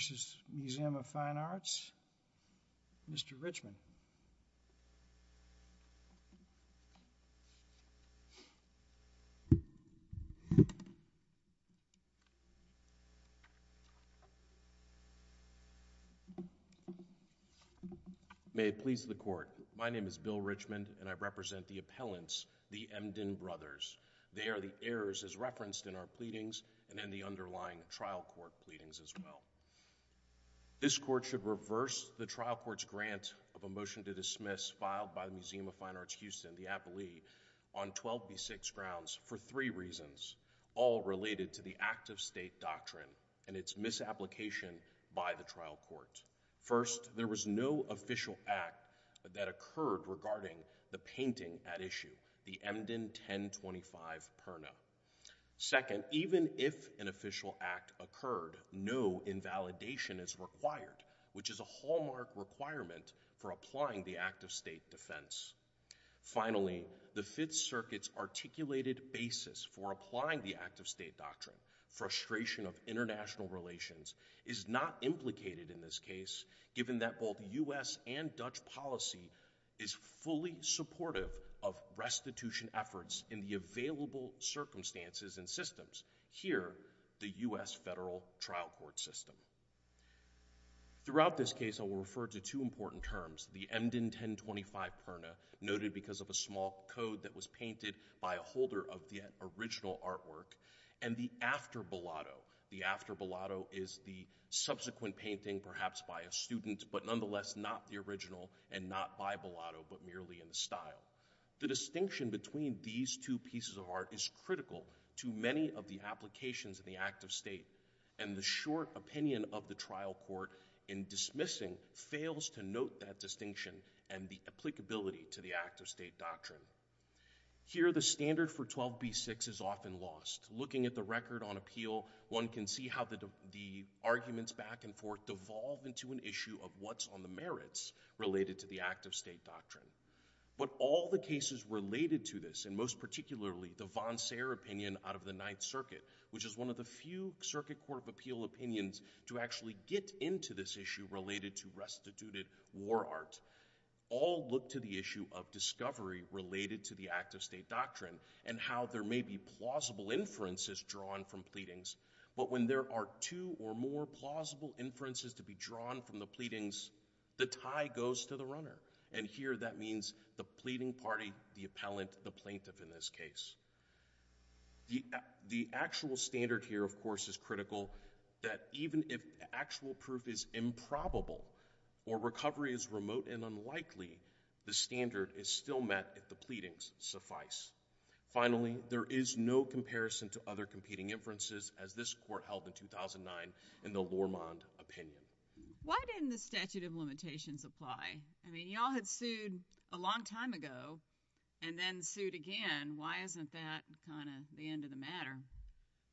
vs. Museum of Fine Arts, Mr. Richmond. May it please the Court, my name is Bill Richmond and I represent the appellants, the Emden brothers. They are the heirs as referenced in our pleadings and in the underlying trial court pleadings as well. This court should reverse the trial court's grant of a motion to dismiss filed by the Museum of Fine Arts Houston, the appellee, on 12B6 grounds for three reasons, all related to the act of state doctrine and its misapplication by the trial court. First, there was no official act that occurred regarding the painting at issue, the Emden 1025 Perna. Second, even if an official act occurred, no invalidation is required, which is a hallmark requirement for applying the act of state defense. Finally, the Fifth Circuit's articulated basis for applying the act of state doctrine, frustration of international relations, is not implicated in this case, given that both U.S. and Dutch government policy is fully supportive of restitution efforts in the available circumstances and systems, here, the U.S. federal trial court system. Throughout this case, I will refer to two important terms, the Emden 1025 Perna, noted because of a small code that was painted by a holder of the original artwork, and the After Bellotto. The After Bellotto is the subsequent painting, perhaps by a student, but nonetheless not the original and not by Bellotto, but merely in the style. The distinction between these two pieces of art is critical to many of the applications of the act of state, and the short opinion of the trial court in dismissing fails to note that distinction and the applicability to the act of state doctrine. Here the standard for 12b-6 is often lost. Looking at the record on appeal, one can see how the arguments back and forth devolve into an issue of what's on the merits related to the act of state doctrine. But all the cases related to this, and most particularly the von Sayer opinion out of the Ninth Circuit, which is one of the few circuit court of appeal opinions to actually get into this issue related to restituted war art, all look to the issue of discovery related to the act of state doctrine, and how there may be plausible inferences drawn from pleadings. But when there are two or more plausible inferences to be drawn from the pleadings, the tie goes to the runner. And here that means the pleading party, the appellant, the plaintiff in this case. The actual standard here, of course, is critical that even if actual proof is improbable or recovery is remote and unlikely, the standard is still met if the pleadings suffice. Finally, there is no comparison to other competing inferences, as this court held in 2009 in the Lormond opinion. Why didn't the statute of limitations apply? I mean, y'all had sued a long time ago and then sued again. Why isn't that kind of the end of the matter?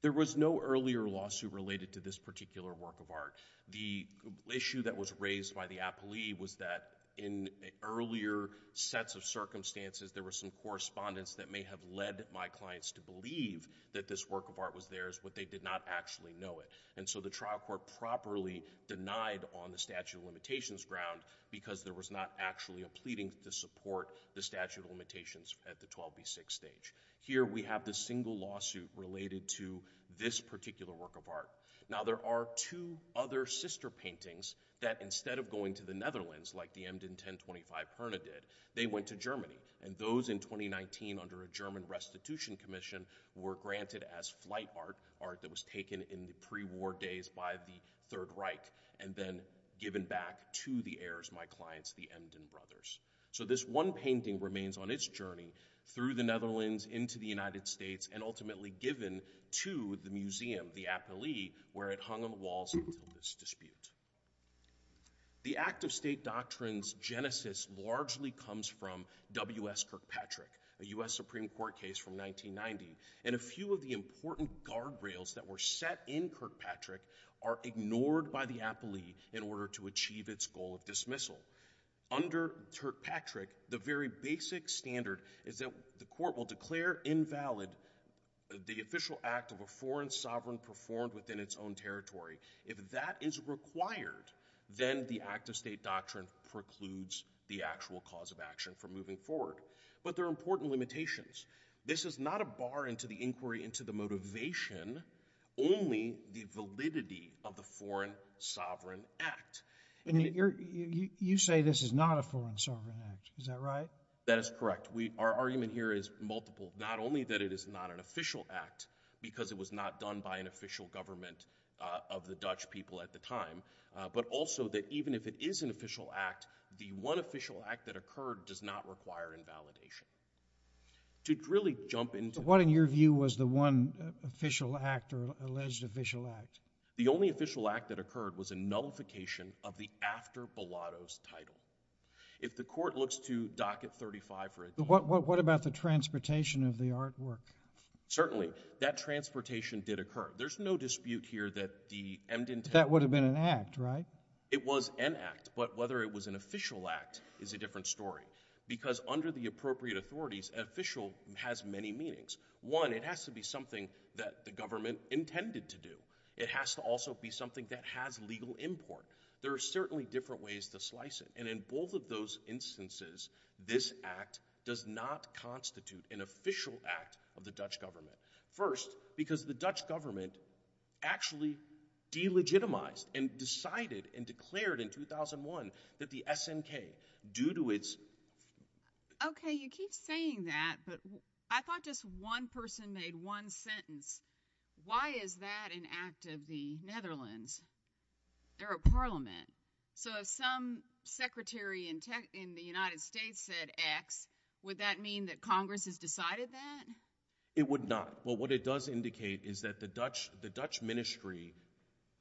There was no earlier lawsuit related to this particular work of art. The issue that was raised by the appellee was that in earlier sets of circumstances, there were some correspondence that may have led my clients to believe that this work of art was theirs, but they did not actually know it. And so the trial court properly denied on the statute of limitations ground, because there was not actually a pleading to support the statute of limitations at the 12b6 stage. Here we have the single lawsuit related to this particular work of art. Now there are two other sister paintings that instead of going to the Netherlands, like the Emden 1025 Perna did, they went to Germany, and those in 2019 under a German restitution commission were granted as flight art, art that was taken in the pre-war days by the Third Reich and then given back to the heirs, my clients, the Emden brothers. So this one painting remains on its journey through the Netherlands, into the United States, and ultimately given to the museum, the appellee, where it hung on the walls until this dispute. The act of state doctrines genesis largely comes from W.S. Kirkpatrick, a U.S. Supreme Court case from 1990, and a few of the important guardrails that were set in Kirkpatrick are ignored by the appellee in order to achieve its goal of dismissal. Under Kirkpatrick, the very basic standard is that the court will declare invalid the then the act of state doctrine precludes the actual cause of action for moving forward. But there are important limitations. This is not a bar into the inquiry into the motivation, only the validity of the foreign sovereign act. You say this is not a foreign sovereign act, is that right? That is correct. Our argument here is multiple. Not only that it is not an official act, because it was not done by an official government of the Dutch people at the time, but also that even if it is an official act, the one official act that occurred does not require invalidation. To really jump into... But what, in your view, was the one official act or alleged official act? The only official act that occurred was a nullification of the after Bilotto's title. If the court looks to docket 35 for... What about the transportation of the artwork? Certainly. That transportation did occur. There's no dispute here that the... That would have been an act, right? It was an act, but whether it was an official act is a different story. Because under the appropriate authorities, official has many meanings. One, it has to be something that the government intended to do. It has to also be something that has legal import. There are certainly different ways to slice it. In both of those instances, this act does not constitute an official act of the Dutch government. First, because the Dutch government actually delegitimized and decided and declared in 2001 that the SNK, due to its... Okay, you keep saying that, but I thought just one person made one sentence. Why is that an act of the Netherlands? They're a parliament. So if some secretary in the United States said X, would that mean that Congress has decided that? It would not. What it does indicate is that the Dutch ministry,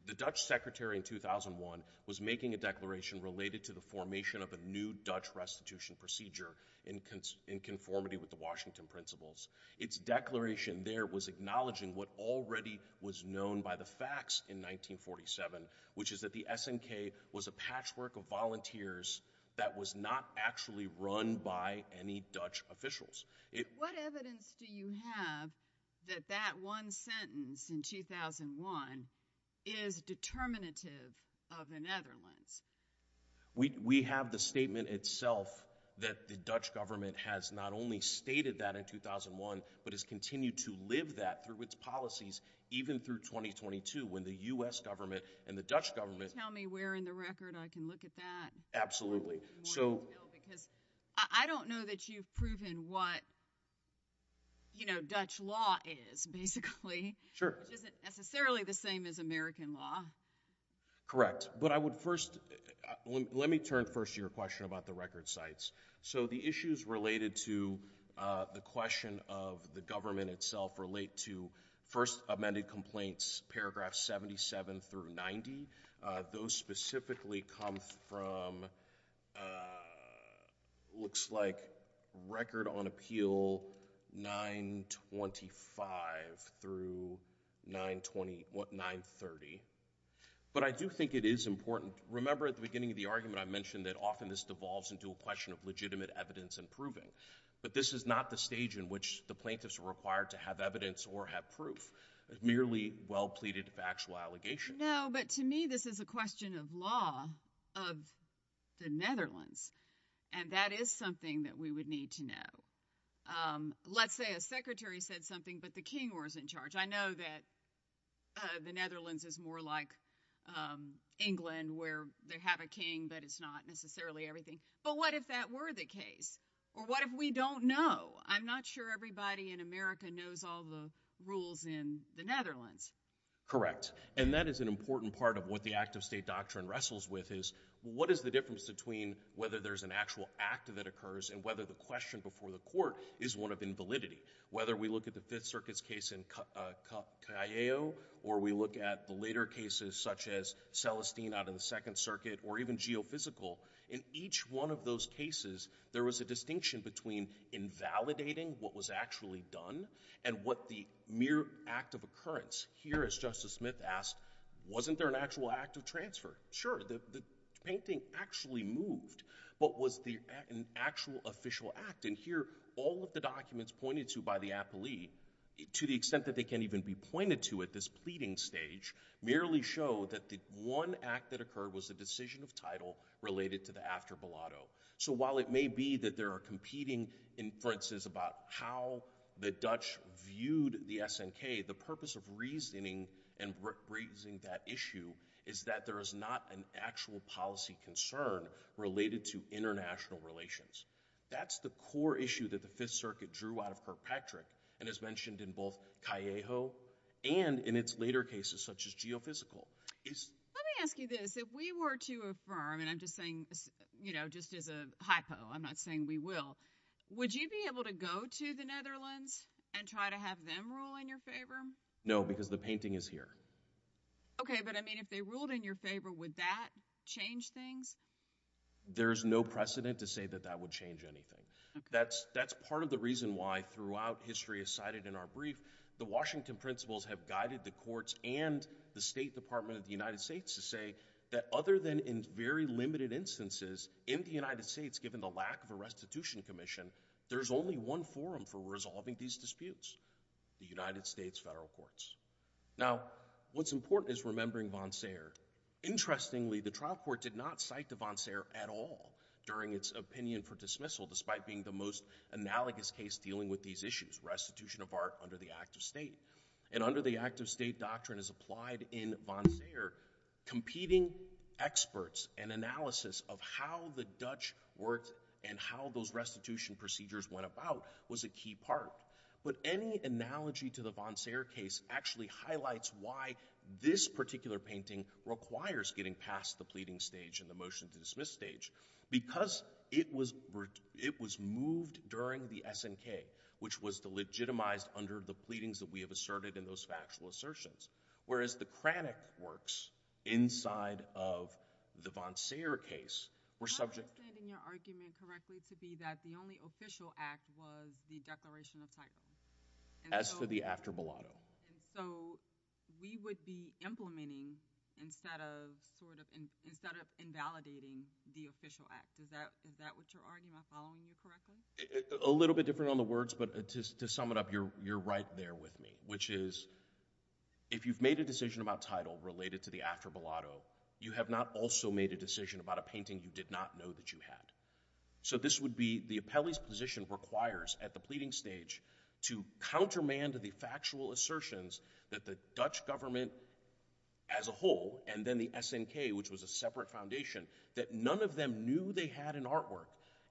the Dutch secretary in 2001, was making a declaration related to the formation of a new Dutch restitution procedure in conformity with the Washington principles. Its declaration there was acknowledging what already was known by the facts in 1947, which is that the SNK was a patchwork of volunteers that was not actually run by any Dutch officials. What evidence do you have that that one sentence in 2001 is determinative of the Netherlands? We have the statement itself that the Dutch government has not only stated that in 2001, but has continued to live that through its policies even through 2022 when the U.S. government and the Dutch government... Can you tell me where in the record I can look at that? Absolutely. I want to know because I don't know that you've proven what Dutch law is basically. Sure. Which isn't necessarily the same as American law. Correct. But I would first... Let me turn first to your question about the record sites. So the issues related to the question of the government itself relate to first amended complaints paragraph 77 through 90. Those specifically come from... Looks like record on appeal 925 through 930. But I do think it is important... Remember at the beginning of the argument I mentioned that often this devolves into a question of legitimate evidence and proving. But this is not the stage in which the plaintiffs are required to have evidence or have proof. Merely well pleaded factual allegations. No, but to me this is a question of law of the Netherlands and that is something that we would need to know. Let's say a secretary said something, but the king was in charge. I know that the Netherlands is more like England where they have a king, but it's not necessarily everything. But what if that were the case? Or what if we don't know? I'm not sure everybody in America knows all the rules in the Netherlands. Correct. And that is an important part of what the act of state doctrine wrestles with is what is the difference between whether there's an actual act that occurs and whether the question before the court is one of invalidity. Whether we look at the Fifth Circuit's case in Callejo or we look at the later cases such as Celestine out of the Second Circuit or even Geophysical, in each one of those cases there was a distinction between invalidating what was actually done and what the mere act of occurrence. Here, as Justice Smith asked, wasn't there an actual act of transfer? Sure. The painting actually moved, but was there an actual official act? And here all of the documents pointed to by the appelee, to the extent that they can't even be pointed to at this pleading stage, merely show that the one act that occurred was the decision of title related to the after Bellotto. So while it may be that there are competing inferences about how the Dutch viewed the SNK, the purpose of reasoning and raising that issue is that there is not an actual policy concern related to international relations. That's the core issue that the Fifth Circuit drew out of Kirkpatrick and has mentioned in both Callejo and in its later cases such as Geophysical. Let me ask you this. If we were to affirm, and I'm just saying, you know, just as a hypo, I'm not saying we will. Would you be able to go to the Netherlands and try to have them rule in your favor? No, because the painting is here. Okay, but I mean, if they ruled in your favor, would that change things? There's no precedent to say that that would change anything. That's part of the reason why throughout history as cited in our brief, the Washington principles have guided the courts and the State Department of the United States to say that other than in very limited instances in the United States, given the lack of a restitution commission, there's only one forum for resolving these disputes, the United States federal courts. Now, what's important is remembering von Sayer. Interestingly, the trial court did not cite to von Sayer at all during its opinion for dismissal despite being the most analogous case dealing with these issues, restitution of art under the act of state. And under the act of state doctrine as applied in von Sayer, competing experts and analysis of how the Dutch worked and how those restitution procedures went about was a key part. But any analogy to the von Sayer case actually highlights why this particular painting requires getting past the pleading stage and the motion to dismiss stage, because it was moved during the SNK, which was the legitimized under the pleadings that we have asserted in those factual assertions. Whereas the Kranich works inside of the von Sayer case were subject... I'm not understanding your argument correctly to be that the only official act was the declaration of title. As for the after mulatto. And so, we would be implementing instead of sort of, instead of invalidating the official act. Is that, is that what you're arguing? Am I following you correctly? A little bit. But to sum it up, you're, you're right there with me, which is, if you've made a decision about title related to the after mulatto, you have not also made a decision about a painting you did not know that you had. So this would be, the appellee's position requires at the pleading stage to countermand the factual assertions that the Dutch government as a whole, and then the SNK, which was a separate foundation, that none of them knew they had an artwork,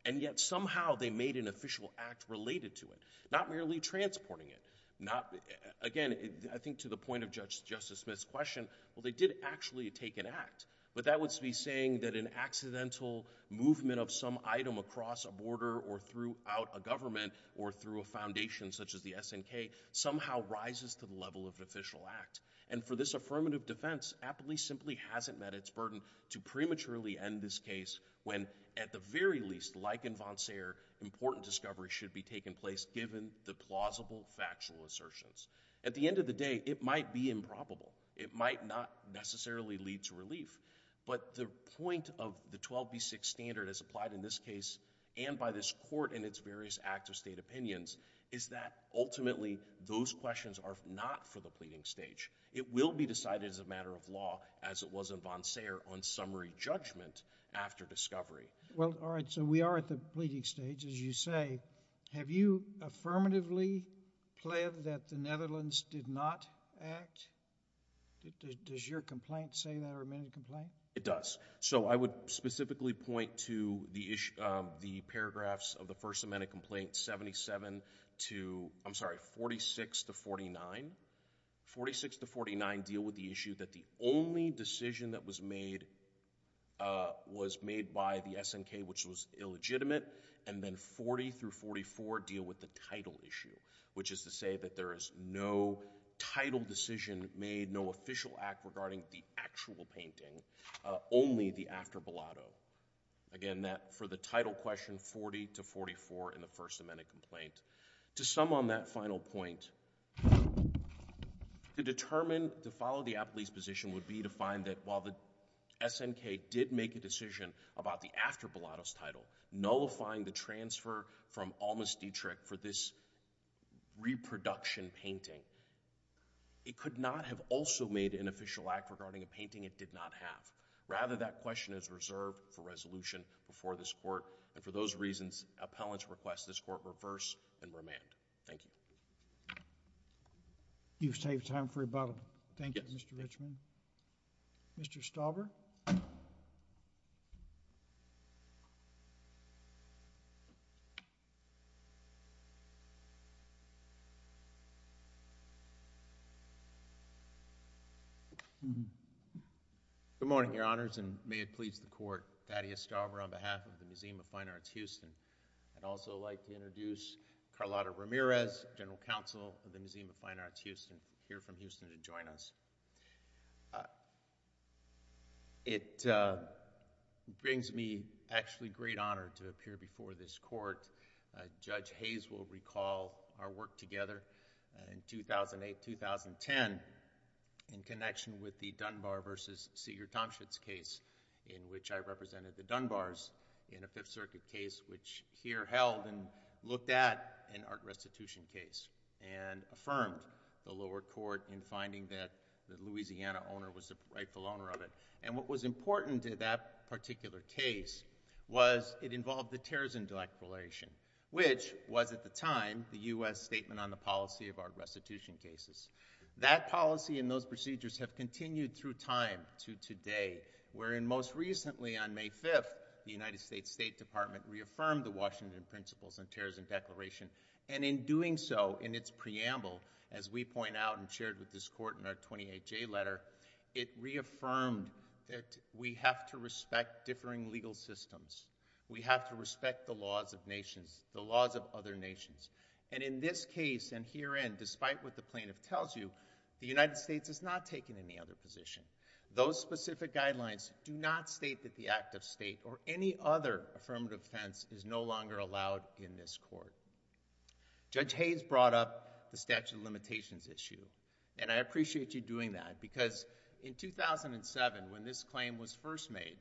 and yet somehow they made an official act related to it, not merely transporting it, not... Again, I think to the point of Justice Smith's question, well, they did actually take an act, but that would be saying that an accidental movement of some item across a border or throughout a government or through a foundation such as the SNK somehow rises to the level of an official act. And for this affirmative defense, appellee simply hasn't met its burden to prematurely defend this case when, at the very least, like in von Sayer, important discovery should be taking place given the plausible factual assertions. At the end of the day, it might be improbable. It might not necessarily lead to relief. But the point of the 12b6 standard as applied in this case and by this Court in its various acts of state opinions is that ultimately those questions are not for the pleading stage. It will be decided as a matter of law as it was in von Sayer on summary judgment after discovery. Well, all right. So we are at the pleading stage. As you say, have you affirmatively pled that the Netherlands did not act? Does your complaint say that or amend the complaint? It does. So I would specifically point to the paragraphs of the First Amendment Complaint 77 to... I'm issue that the only decision that was made was made by the SNK, which was illegitimate, and then 40 through 44 deal with the title issue, which is to say that there is no title decision made, no official act regarding the actual painting, only the after Bilotto. Again, that for the title question, 40 to 44 in the First Amendment Complaint. To sum on that final point, to determine, to follow the appellee's position would be to find that while the SNK did make a decision about the after Bilotto's title, nullifying the transfer from Almas Dietrich for this reproduction painting, it could not have also made an official act regarding a painting it did not have. Rather, that question is reserved for resolution before this Court, and for those reasons, appellants request this Court reverse and remand. Thank you. You've saved time for rebuttal. Thank you, Mr. Richman. Mr. Stauber? Good morning, Your Honors, and may it please the Court, Thaddeus Stauber on behalf of the I'd also like to introduce Carlotta Ramirez, General Counsel of the Museum of Fine Arts Houston, here from Houston to join us. It brings me actually great honor to appear before this Court. Judge Hayes will recall our work together in 2008-2010 in connection with the Dunbar versus Seeger-Tomschitz case, in which I represented the Dunbars in a Fifth Circuit case, which here held and looked at an art restitution case, and affirmed the lower court in finding that the Louisiana owner was the rightful owner of it. And what was important to that particular case was it involved the Terrazin-Dilek relation, which was at the time the U.S. statement on the policy of art restitution cases. That policy and those procedures have continued through time to today, wherein most recently on May 5th, the United States State Department reaffirmed the Washington Principles and Terrazin Declaration, and in doing so, in its preamble, as we point out and shared with this Court in our 28-J letter, it reaffirmed that we have to respect differing legal systems. We have to respect the laws of nations, the laws of other nations. And in this case and herein, despite what the plaintiff tells you, the United States has not taken any other position. Those specific guidelines do not state that the act of state or any other affirmative offense is no longer allowed in this Court. Judge Hayes brought up the statute of limitations issue, and I appreciate you doing that because in 2007, when this claim was first made,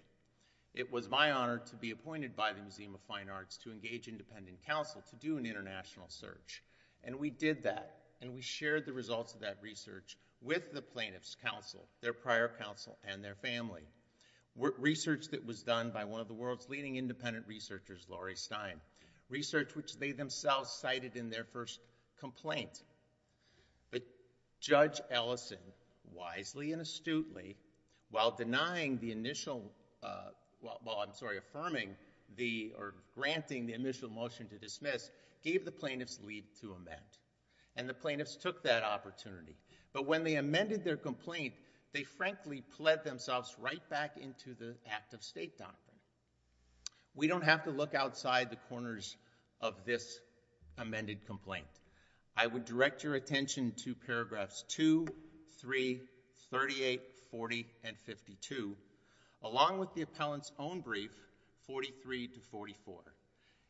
it was my honor to be appointed by the Museum of Fine Arts to engage independent counsel to do an international search. And we did that, and we shared the results of that research with the plaintiff's counsel, their prior counsel, and their family. Research that was done by one of the world's leading independent researchers, Laurie Stein. Research which they themselves cited in their first complaint. But Judge Ellison, wisely and astutely, while denying the initial, well, I'm sorry, affirming the or granting the initial motion to dismiss, gave the plaintiff's leave to amend. And the plaintiffs took that opportunity. But when they amended their complaint, they frankly pled themselves right back into the act of state doctrine. We don't have to look outside the corners of this amended complaint. I would direct your attention to paragraphs 2, 3, 38, 40, and 52, along with the appellant's own brief, 43 to 44.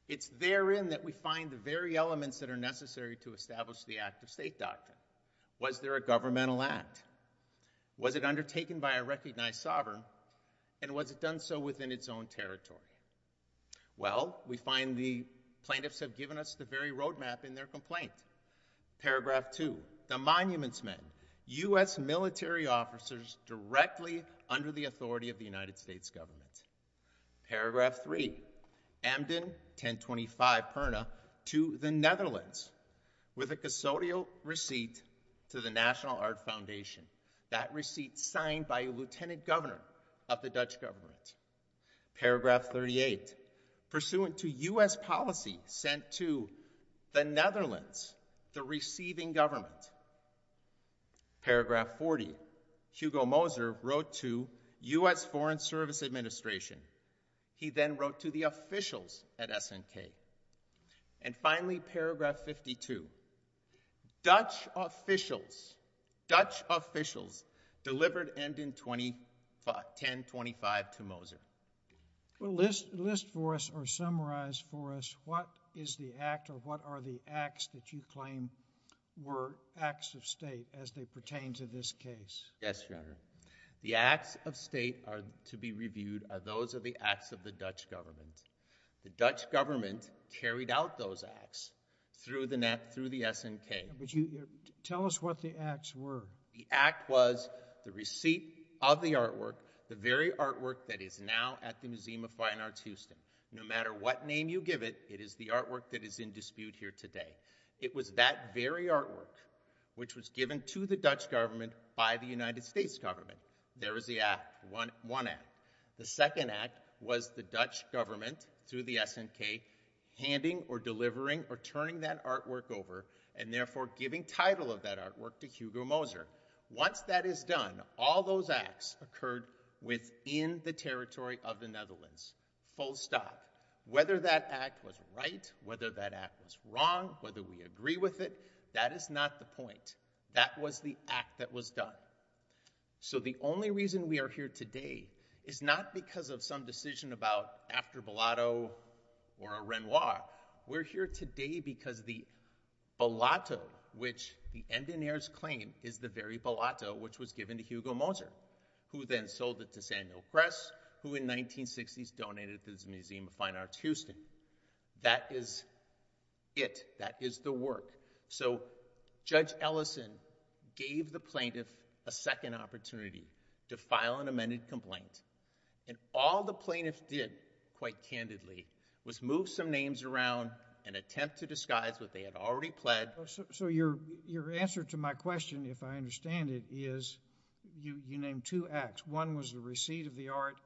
It's therein that we find the very elements that are necessary to establish the act of state doctrine. Was there a governmental act? Was it undertaken by a recognized sovereign, and was it done so within its own territory? Well, we find the plaintiffs have given us the very roadmap in their complaint. Paragraph 2, the Monuments Men, U.S. military officers directly under the authority of the United States government. Paragraph 3, Emden, 1025 Perna, to the Netherlands with a custodial receipt to the National Art Foundation, that receipt signed by a lieutenant governor of the Dutch government. Paragraph 38, pursuant to U.S. policy sent to the Netherlands, the receiving government. Paragraph 40, Hugo Moser wrote to U.S. Foreign Service Administration. He then wrote to the officials at SNK. And finally, paragraph 52, Dutch officials, Dutch officials delivered Emden 1025 to Moser. Well, list for us, or summarize for us, what is the act, or what are the acts that you claim were acts of state as they pertain to this case? Yes, Your Honor. The acts of state to be reviewed are those of the acts of the Dutch government. The Dutch government carried out those acts through the SNK. Tell us what the acts were. The act was the receipt of the artwork, the very artwork that is now at the Museum of Fine Arts Houston. No matter what name you give it, it is the artwork that is in dispute here today. It was that very artwork which was given to the Dutch government by the United States government. There is the act, one act. The second act was the Dutch government, through the SNK, handing or delivering or turning that artwork over, and therefore giving title of that artwork to Hugo Moser. Once that is done, all those acts occurred within the territory of the Netherlands, full stop. Whether that act was right, whether that act was wrong, whether we agree with it, that is not the point. That was the act that was done. So the only reason we are here today is not because of some decision about after Bellotto or a Renoir. We're here today because the Bellotto, which the Endenaers claim is the very Bellotto which was given to Hugo Moser, who then sold it to Samuel Kress, who in 1960s donated it to the Museum of Fine Arts Houston. That is it. That is the work. So Judge Ellison gave the plaintiff a second opportunity to file an amended complaint, and all the plaintiff did, quite candidly, was move some names around and attempt to disguise what they had already pled. So your answer to my question, if I understand it, is you named two acts. One was the receipt of the art,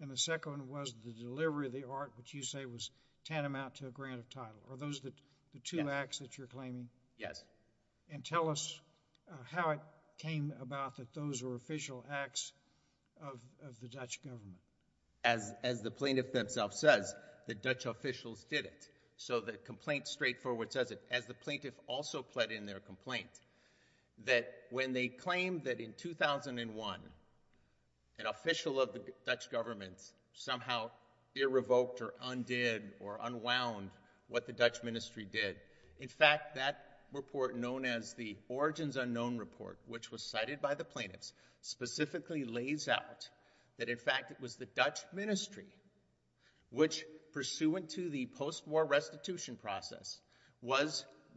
and the second was the delivery of the art, which you say was tantamount to a grant of title. Are those the two acts that you're claiming? Yes. And tell us how it came about that those were official acts of the Dutch government. As the plaintiff themselves says, the Dutch officials did it. So the complaint straightforward says it. As the plaintiff also pled in their complaint, that when they claim that in 2001, an official of the Dutch government somehow irrevoked or undid or unwound what the Dutch ministry did, in fact, that report known as the Origins Unknown Report, which was cited by the plaintiffs, specifically lays out that in fact it was the Dutch ministry which, pursuant to the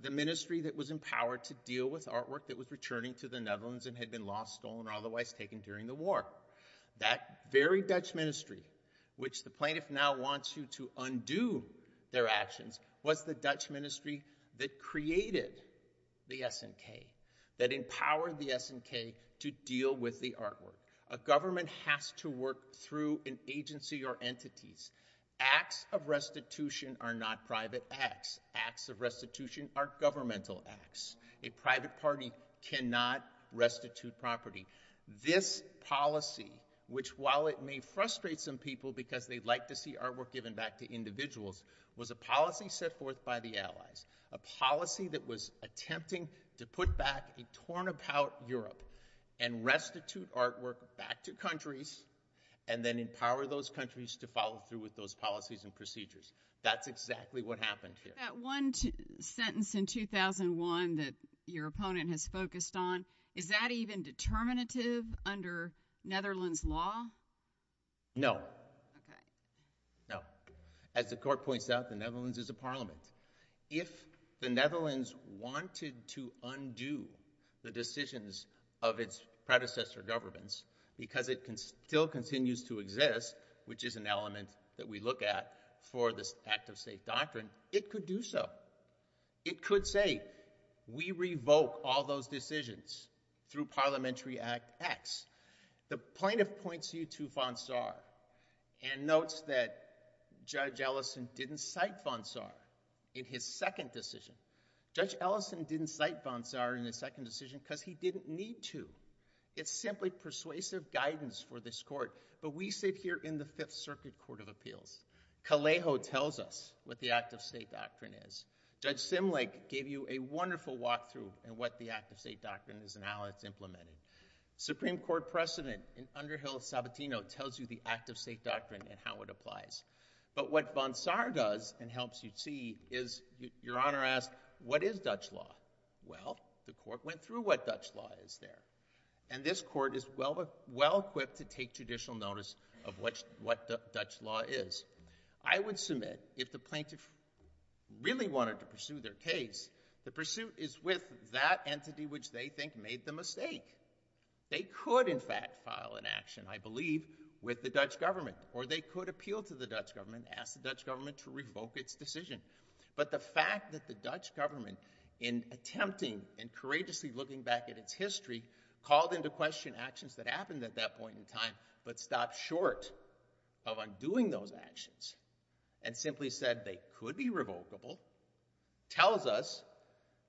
the ministry that was empowered to deal with artwork that was returning to the Netherlands and had been lost, stolen, or otherwise taken during the war. That very Dutch ministry, which the plaintiff now wants you to undo their actions, was the Dutch ministry that created the SNK, that empowered the SNK to deal with the artwork. A government has to work through an agency or entities. Acts of restitution are not private acts. Acts of restitution are governmental acts. A private party cannot restitute property. This policy, which while it may frustrate some people because they'd like to see artwork given back to individuals, was a policy set forth by the Allies, a policy that was attempting to put back a torn about Europe and restitute artwork back to countries and then empower those countries to follow through with those policies and procedures. That's exactly what happened here. That one sentence in 2001 that your opponent has focused on, is that even determinative under Netherlands law? No. Okay. No. As the court points out, the Netherlands is a parliament. If the Netherlands wanted to undo the decisions of its predecessor governments, because it still continues to exist, which is an element that we look at for this act of state doctrine, it could do so. It could say, we revoke all those decisions through Parliamentary Act X. The plaintiff points you to Van Saar and notes that Judge Ellison didn't cite Van Saar in his second decision. Judge Ellison didn't cite Van Saar in his second decision because he didn't need to. It's simply persuasive guidance for this court, but we sit here in the Fifth Circuit Court of Appeals. Callejo tells us what the act of state doctrine is. Judge Simlick gave you a wonderful walkthrough in what the act of state doctrine is and how it's implemented. Supreme Court precedent in Underhill-Sabatino tells you the act of state doctrine and how it applies. But what Van Saar does and helps you see is, your Honor asked, what is Dutch law? Well, the court went through what Dutch law is there. And this court is well equipped to take judicial notice of what Dutch law is. I would submit, if the plaintiff really wanted to pursue their case, the pursuit is with that entity which they think made the mistake. They could, in fact, file an action, I believe, with the Dutch government, or they could appeal to the Dutch government, ask the Dutch government to revoke its decision. But the fact that the Dutch government, in attempting and courageously looking back at its history, called into question actions that happened at that point in time, but stopped short of undoing those actions, and simply said they could be revocable, tells us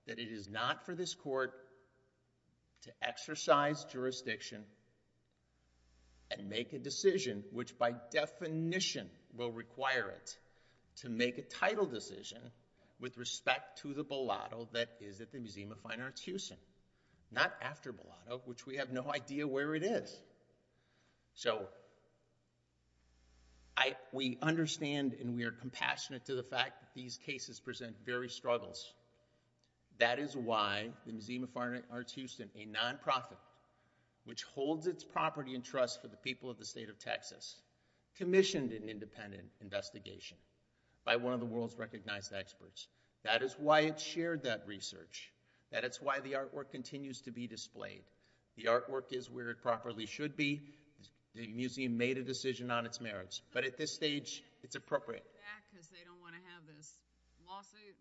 that it is not for this court to exercise jurisdiction and make a decision which, by definition, will require it to make a title decision with respect to the Bolado that is at the Museum of Fine Arts Houston. Not after Bolado, which we have no idea where it is. So we understand and we are compassionate to the fact that these cases present very struggles. That is why the Museum of Fine Arts Houston, a non-profit which holds its property and independent investigation, by one of the world's recognized experts. That is why it shared that research. That is why the artwork continues to be displayed. The artwork is where it properly should be. The museum made a decision on its merits. But at this stage, it's appropriate. They're holding it back because they don't want to have this lawsuit.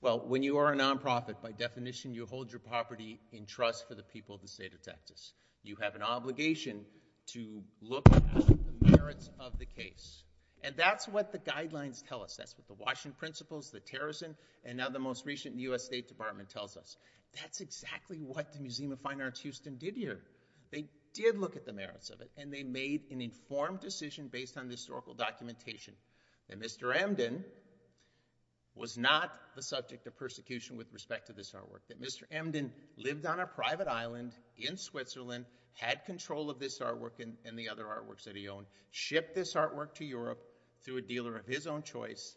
Well, when you are a non-profit, by definition, you hold your property in trust for the people of the state of Texas. You have an obligation to look at the merits of the case. And that's what the guidelines tell us. That's what the Washington Principles, the Terrorism, and now the most recent U.S. State Department tells us. That's exactly what the Museum of Fine Arts Houston did here. They did look at the merits of it and they made an informed decision based on the historical documentation that Mr. Emden was not the subject of persecution with respect to this artwork. That Mr. Emden lived on a private island in Switzerland, had control of this artwork and the other artworks that he owned, shipped this artwork to Europe through a dealer of his own choice,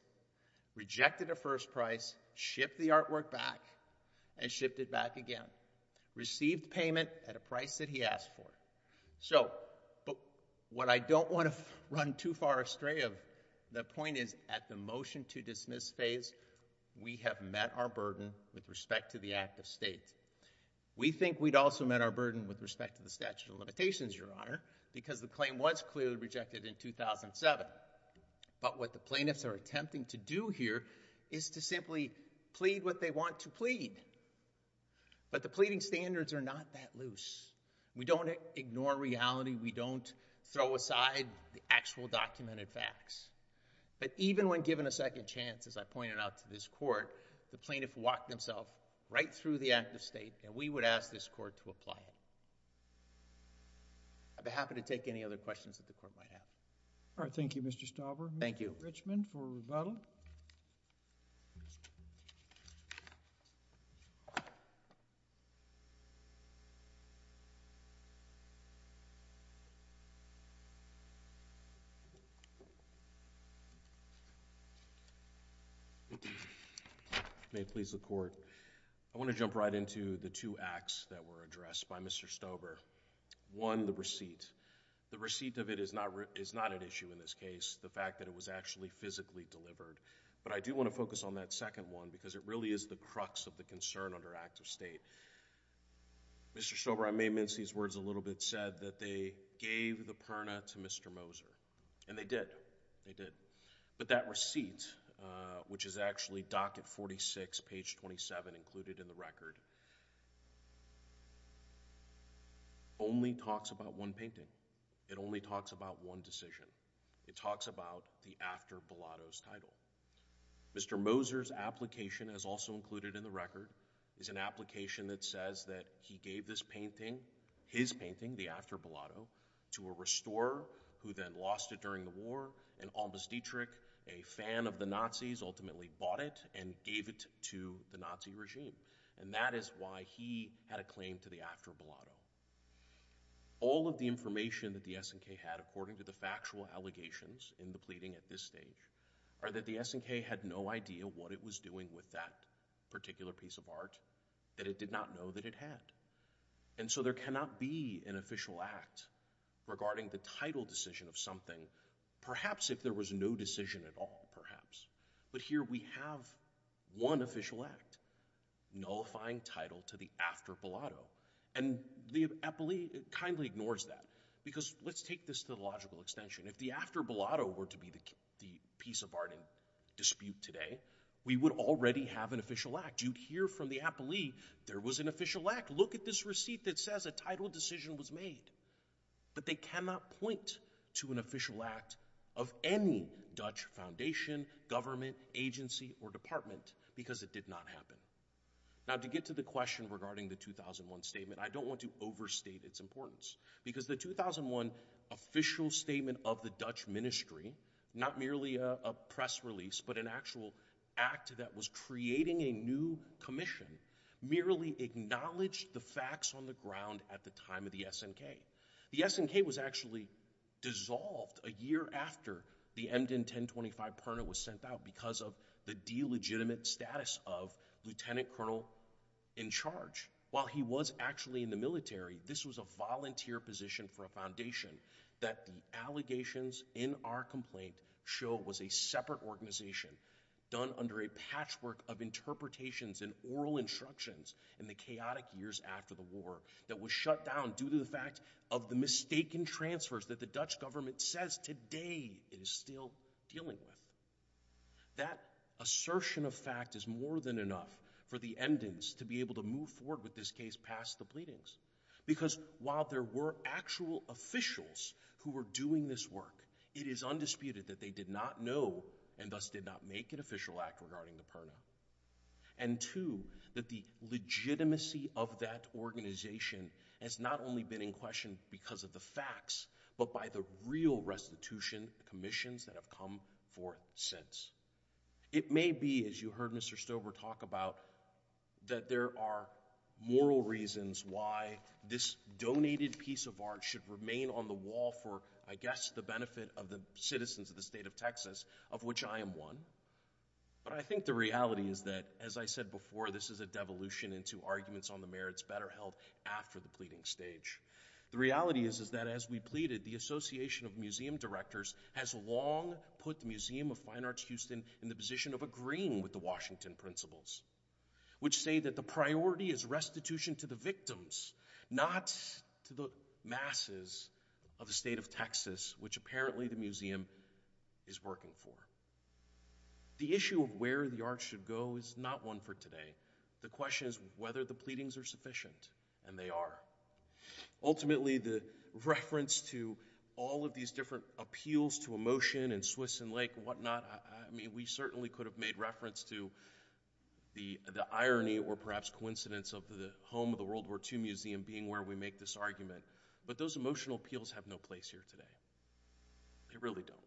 rejected a first price, shipped the artwork back, and shipped it back again. Received payment at a price that he asked for. So, what I don't want to run too far astray of, the point is, at the motion to dismiss phase, we have met our burden with respect to the act of state. We think we'd also met our burden with respect to the statute of limitations, Your Honor, because the claim was clearly rejected in 2007. But what the plaintiffs are attempting to do here is to simply plead what they want to plead. But the pleading standards are not that loose. We don't ignore reality. We don't throw aside the actual documented facts. But even when given a second chance, as I pointed out to this Court, the plaintiff walked himself right through the act of state, and we would ask this Court to apply it. I'd be happy to take any other questions that the Court might have. All right. Thank you, Mr. Stauber. Thank you. Mr. Richmond for rebuttal. May it please the Court. I want to jump right into the two acts that were addressed by Mr. Stauber. One, the receipt. The receipt of it is not an issue in this case, the fact that it was actually physically delivered. But I do want to focus on that second one because it really is the crux of the concern under act of state. Mr. Stauber, I may mince these words a little bit, said that they gave the perna to Mr. Moser. And they did. They did. But that receipt, which is actually docket 46, page 27 included in the record, only talks about one painting. It only talks about one decision. It talks about the after Bilotto's title. Mr. Moser's application, as also included in the record, is an application that says that he gave this painting, his painting, the after Bilotto, to a restorer who then lost it during the war, and Almas Dietrich, a fan of the Nazis, ultimately bought it and gave it to the Nazi regime. And that is why he had a claim to the after Bilotto. All of the information that the SNK had, according to the factual allegations in the pleading at this stage, are that the SNK had no idea what it was doing with that particular piece of art, that it did not know that it had. And so there cannot be an official act regarding the title decision of something, perhaps if there was no decision at all, perhaps. But here we have one official act, nullifying title to the after Bilotto, and the appellee kindly ignores that. Because let's take this to the logical extension, if the after Bilotto were to be the piece of art in dispute today, we would already have an official act. You'd hear from the appellee, there was an official act. Look at this receipt that says a title decision was made. But they cannot point to an official act of any Dutch foundation, government, agency, or department, because it did not happen. Now to get to the question regarding the 2001 statement, I don't want to overstate its importance. Because the 2001 official statement of the Dutch ministry, not merely a press release, but an actual act that was creating a new commission, merely acknowledged the facts on the ground at the time of the SNK. The SNK was actually dissolved a year after the Emden 1025 Perna was sent out because of the de-legitimate status of lieutenant colonel in charge. While he was actually in the military, this was a volunteer position for a foundation that the allegations in our complaint show was a separate organization, done under a power that was shut down due to the fact of the mistaken transfers that the Dutch government says today it is still dealing with. That assertion of fact is more than enough for the Emdens to be able to move forward with this case past the pleadings. Because while there were actual officials who were doing this work, it is undisputed that they did not know and thus did not make an official act regarding the Perna. And two, that the legitimacy of that organization has not only been in question because of the facts, but by the real restitution commissions that have come forth since. It may be, as you heard Mr. Stover talk about, that there are moral reasons why this donated piece of art should remain on the wall for, I guess, the benefit of the citizens of the state of Texas, of which I am one. But I think the reality is that, as I said before, this is a devolution into arguments on the merits better held after the pleading stage. The reality is that, as we pleaded, the Association of Museum Directors has long put the Museum of Fine Arts Houston in the position of agreeing with the Washington Principles, which say that the priority is restitution to the victims, not to the masses of the state of Texas, which apparently the Museum is working for. The issue of where the art should go is not one for today. The question is whether the pleadings are sufficient, and they are. Ultimately, the reference to all of these different appeals to emotion in Swiss and Lake and whatnot, I mean, we certainly could have made reference to the irony or perhaps coincidence of the home of the World War II Museum being where we make this argument, but those emotional appeals have no place here today. They really don't.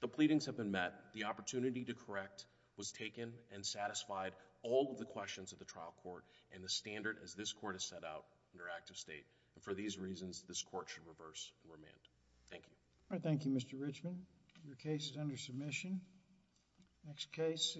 The pleadings have been met. The opportunity to correct was taken and satisfied all of the questions of the trial court and the standard as this court has set out under active state. For these reasons, this court should reverse remand. Thank you. All right. Thank you, Mr. Richmond. Your case is under submission. Next case.